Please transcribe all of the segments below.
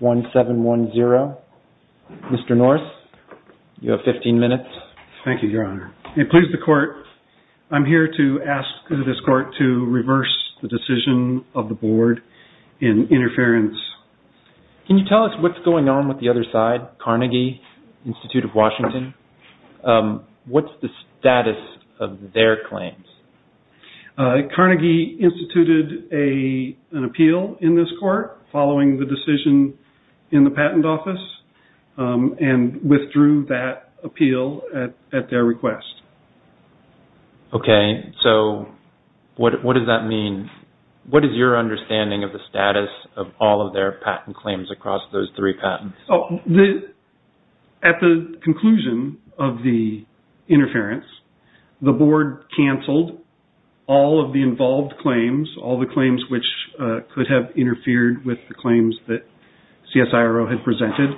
1710. Mr. Norris, you have 15 minutes. Thank you, Your Honor. It pleases the Court, I'm here to ask this Court to reverse the decision of the Board in interference. Can you tell us what's going on with the other side, Carnegie Institute of Washington? What's the status of their claims? Carnegie instituted an appeal in this Court following the decision in the patent office and withdrew that appeal at their request. Okay, so what does that mean? What is your understanding of the status of all of their patent claims across those three patents? The Board cancelled all of the involved claims, all the claims which could have interfered with the claims that CSIRO had presented.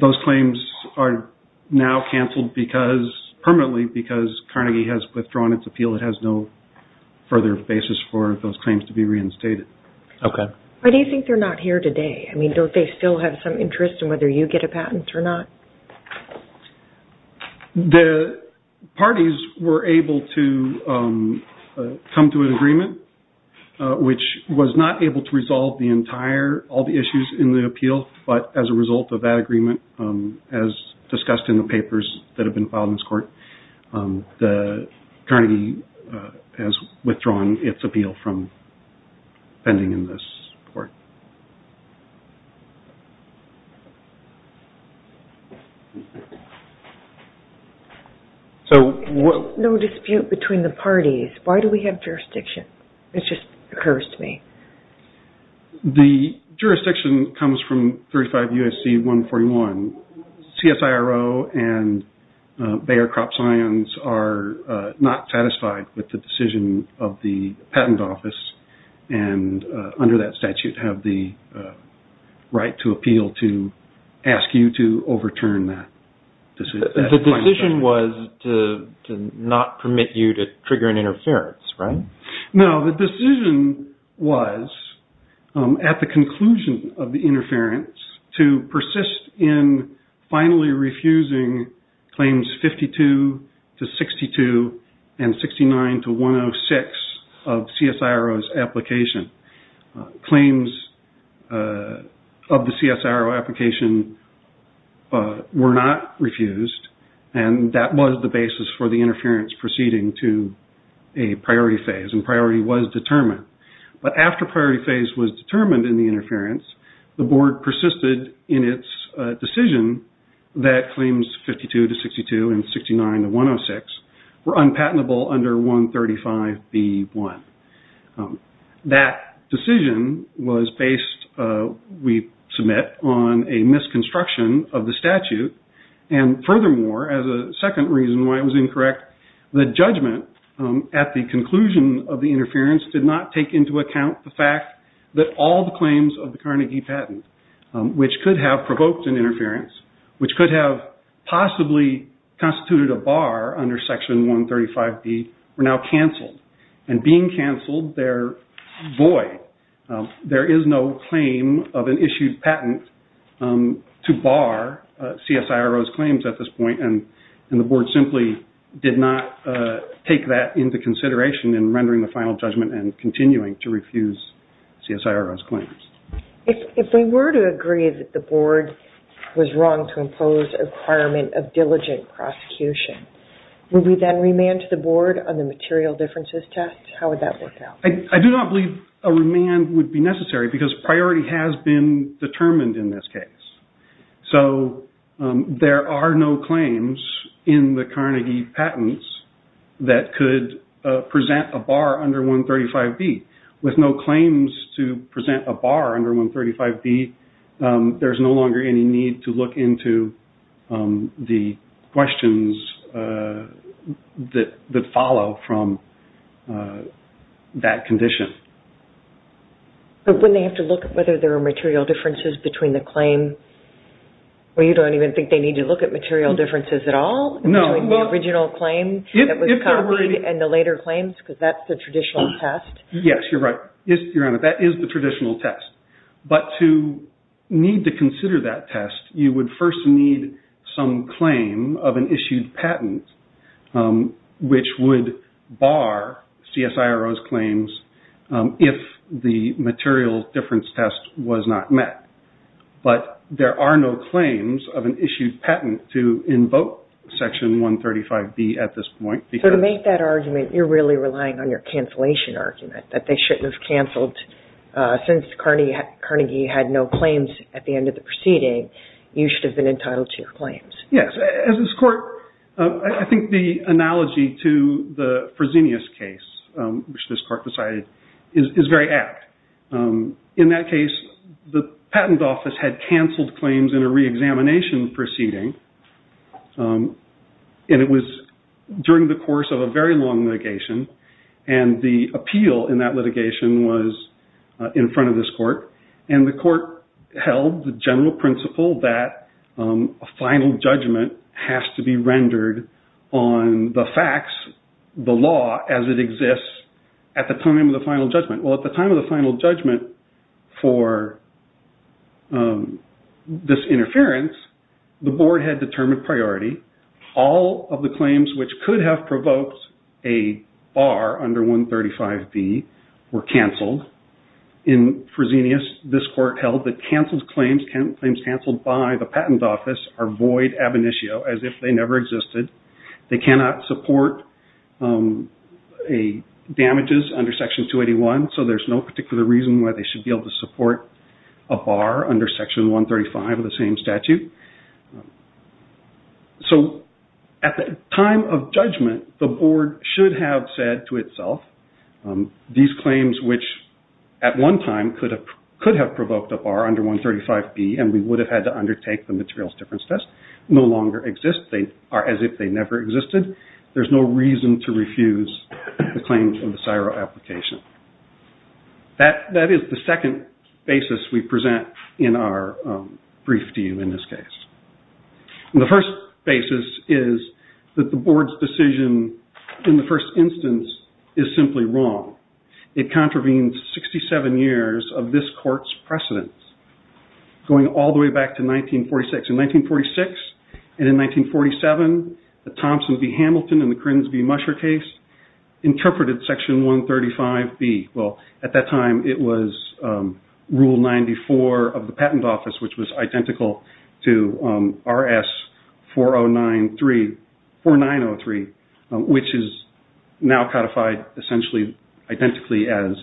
Those claims are now cancelled permanently because Carnegie has withdrawn its appeal. It has no further basis for those claims to be reinstated. Okay. Why do you think they're not here today? Don't they still have some patent or not? The parties were able to come to an agreement, which was not able to resolve the entire, all the issues in the appeal, but as a result of that agreement, as discussed in the papers that have been filed in this Court, Carnegie has withdrawn its appeal from the hearing in this Court. No dispute between the parties. Why do we have jurisdiction? It just occurs to me. The jurisdiction comes from 35 U.S.C. 141. CSIRO and Bayer CropScience are not satisfied with the decision of the patent office and under that statute have the right to appeal to ask you to overturn that. The decision was to not permit you to trigger an interference, right? No. The decision was at the conclusion of the interference to persist in finally refusing claims 52 to 62 and 69 to 106 of CSIRO's application. Claims of the CSIRO application were not refused and that was the basis for the interference proceeding to a priority phase and priority was determined. But after priority phase was persisted in its decision that claims 52 to 62 and 69 to 106 were unpatentable under 135B1. That decision was based, we submit, on a misconstruction of the statute and furthermore as a second reason why it was incorrect, the judgment at the conclusion of the interference did not take into account the fact that all the claims of the Carnegie patent, which could have provoked an interference, which could have possibly constituted a bar under Section 135B, were now cancelled and being cancelled, they are void. There is no claim of an issued patent to bar CSIRO's claims at this point and the board simply did not take that into consideration in rendering the final judgment and continuing to refuse CSIRO's claims. If we were to agree that the board was wrong to impose a requirement of diligent prosecution, would we then remand the board on the material differences test? How would that work out? I do not believe a remand would be necessary because priority has been determined in this case. So there are no claims in the Carnegie patents that could have been used to impose a bar under 135B. With no claims to present a bar under 135B, there is no longer any need to look into the questions that follow from that condition. But wouldn't they have to look at whether there are material differences between the claim? You do not even think they need to look at material differences at all between the original claim that was copied and the later claims because that is the traditional test? Yes, you are right. That is the traditional test. But to need to consider that test, you would first need some claim of an issued patent which would bar CSIRO's claims if the material difference test was not met. But there are no claims of an issued patent to invoke Section 135B at this point. So to make that argument, you are really relying on your cancellation argument that they should have canceled since Carnegie had no claims at the end of the proceeding, you should have been entitled to your claims. Yes. As this court, I think the analogy to the Fresenius case which this court decided is very apt. In that case, the patent office had canceled claims in a re-examination proceeding and it was during the course of a very long litigation and the appeal in that litigation was in front of this court and the court held the general principle that a final judgment has to be rendered on the facts, the law as it exists at the time of the final judgment. Well, at the time of the final judgment for this interference, the board had determined priority, all of the claims which could have provoked a bar under 135B were canceled. In Fresenius, this court held that canceled claims, claims canceled by the patent office are void ab initio as if they never existed. They cannot support damages under Section 281, so there is no particular reason why they should be able to support a bar under Section 135 of the same statute. So at the time of judgment, the board should have said to itself, these claims which at one time could have provoked a bar under 135B and we would have had to undertake the materials difference test no longer exist. They are as if they never existed. There is no reason to refuse the claims in the CSIRO application. That is the second basis we present in our brief to you in this case. The first basis is that the board's decision in the first instance is simply wrong. It contravenes 67 years of this court's precedence going all the way back to 1946. In 1946 and 1947, the Thompson v. Hamilton and the Krins v. Musher case interpreted Section 135B. At that time, it was Rule 94 of the patent office which was identical to RS-4903 which is now codified essentially identically as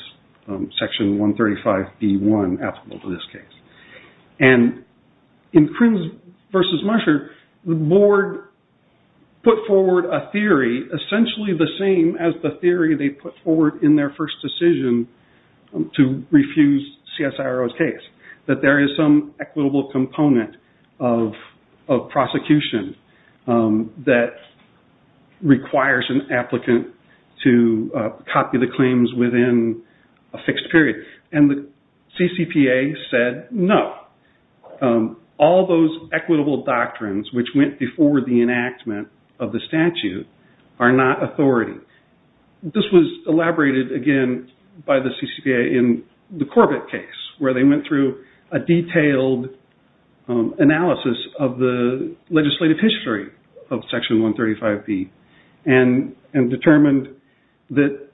Section 135B-1 applicable to this case. And in Krins v. Musher, the board put forward a theory essentially the same as the theory they put forward in their first decision to refuse CSIRO's case, that there is some equitable component of prosecution that requires an applicant to copy the claims within a fixed period. And the CCPA said no. All those equitable doctrines which went before the enactment of the statute are not authority. This was elaborated again by the CCPA in the Corbett case where they went through a detailed analysis of the legislative history of Section 135B and determined that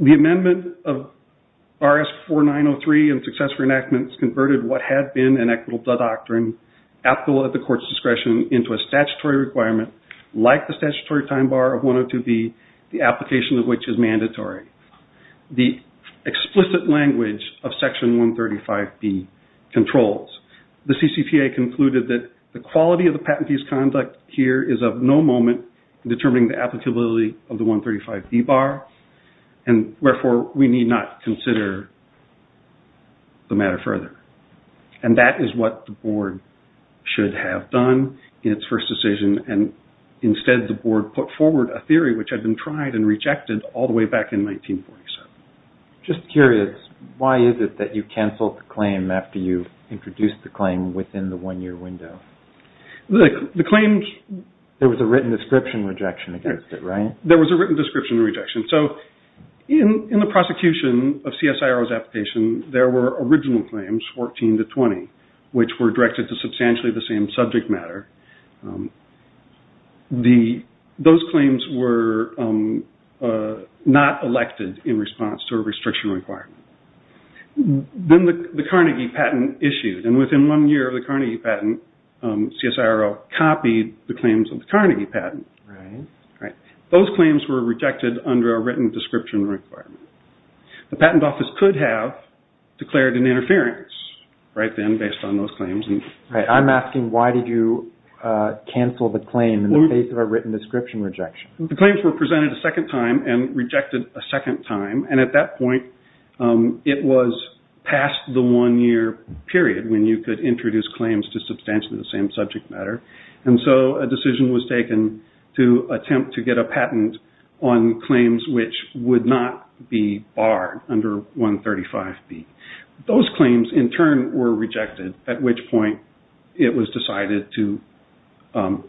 the amendment of RS-4903 and successful enactments converted what had been an equitable doctrine applicable at the court's discretion into a statutory requirement like the statutory time bar of 102B, the application of which is mandatory. The explicit language of Section 135B controls. The CCPA concluded that the quality of the patentee's conduct here is of no moment determining the applicability of the 135B bar and therefore we need not consider the matter further. And that is what the board should have done in its first decision and instead the board put forward a theory which had been tried and rejected all the way back in 1947. Just curious, why is it that you canceled the claim after you introduced the claim within the one-year window? There was a written description rejection against it, right? There was a written description rejection. So in the prosecution of CSIRO's application there were original claims, 14 to 20, which were directed to substantially the same subject matter. Those claims were not elected in response to a restriction requirement. Then the Carnegie patent, CSIRO copied the claims of the Carnegie patent. Those claims were rejected under a written description requirement. The Patent Office could have declared an interference right then based on those claims. I'm asking why did you cancel the claim in the face of a written description rejection? The claims were presented a second time and rejected a second time and at that point it was past the one-year period when you could introduce claims to substantially the same subject matter. And so a decision was taken to attempt to get a patent on claims which would not be barred under 135B. Those claims in turn were rejected at which point it was decided to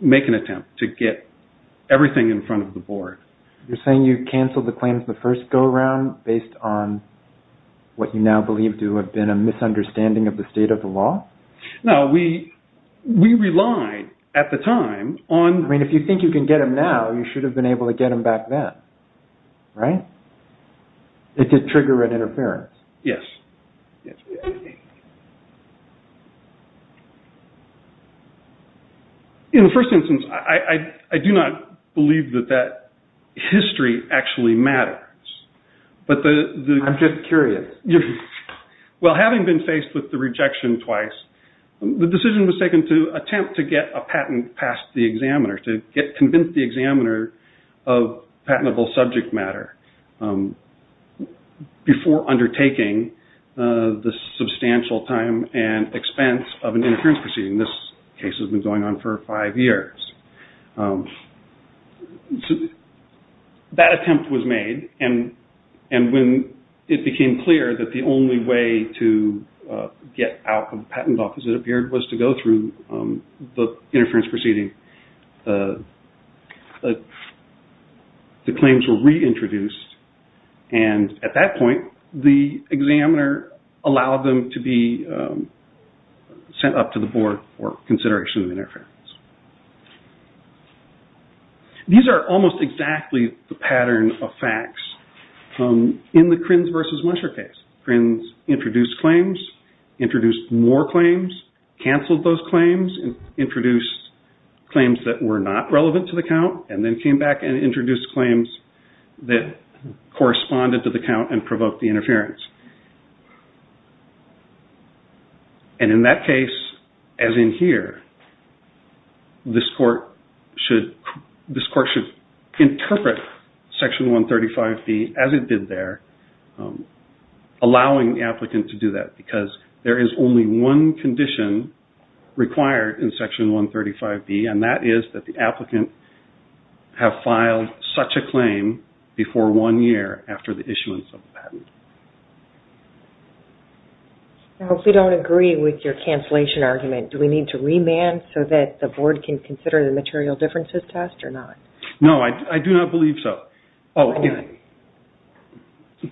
make an attempt to get everything in front of the board. You're saying you canceled the claims in the first go-round based on what you now believe to have been a misunderstanding of the state of the law? No, we relied at the time on... I mean if you think you can get them now, you should have been able to get them back then, right? It did trigger an interference. Yes. In the first instance, I do not believe that that history actually matters. I'm just curious. Well having been faced with the rejection twice, the decision was taken to attempt to get a patent past the examiner, to convince the examiner of patentable subject matter before undertaking the substantial time and expense of an interference proceeding. This case has been going on for five years. That attempt was made and when it became clear that the only way to get out of the patent office, it appeared, was to go through the claims were reintroduced and at that point, the examiner allowed them to be sent up to the board for consideration of interference. These are almost exactly the pattern of facts in the Krinz versus Musher case. Krinz introduced claims, introduced more claims, canceled those claims, introduced claims that were not relevant to the count and then came back and introduced claims that corresponded to the count and provoked the interference. And in that case, as in here, this court should interpret Section 135B as it did there, allowing the applicant to do that because there is only one condition required in Section 135B and that is that the applicant have filed such a claim before one year after the issuance of the patent. I hope we do not agree with your cancellation argument. Do we need to remand so that the board can consider the material differences test or not? No, I do not believe so.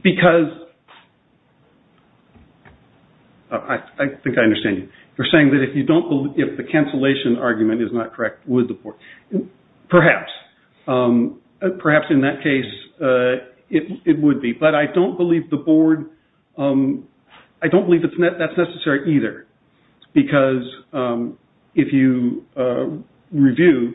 Because, I think I understand you. You are saying that if the board, perhaps in that case, it would be. But I do not believe that is necessary either. Because if you review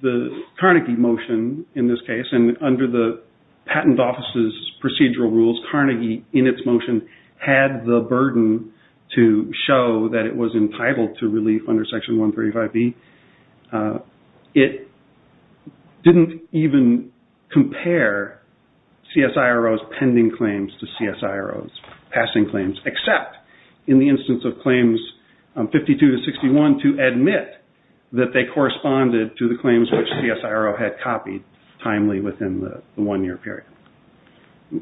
the Carnegie motion in this case and under the Patent Office's procedural rules, Carnegie in its motion had the burden to show that it was entitled to it did not even compare CSIRO's pending claims to CSIRO's passing claims except in the instance of claims 52 to 61 to admit that they corresponded to the claims which CSIRO had copied timely within the one-year period.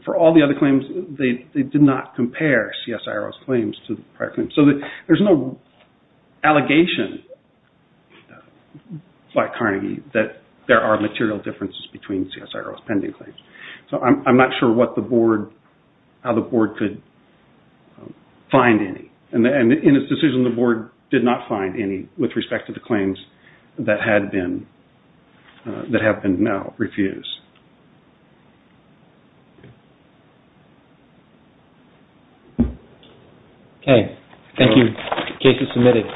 For all the other claims, they did not compare CSIRO's claims to the prior claims. So there is no allegation by Carnegie that there are material differences between CSIRO's pending claims. So I am not sure what the board, how the board could find any. And in its decision the board did not find any with respect to the claims that have been now refused. Okay. Thank you. The case is submitted.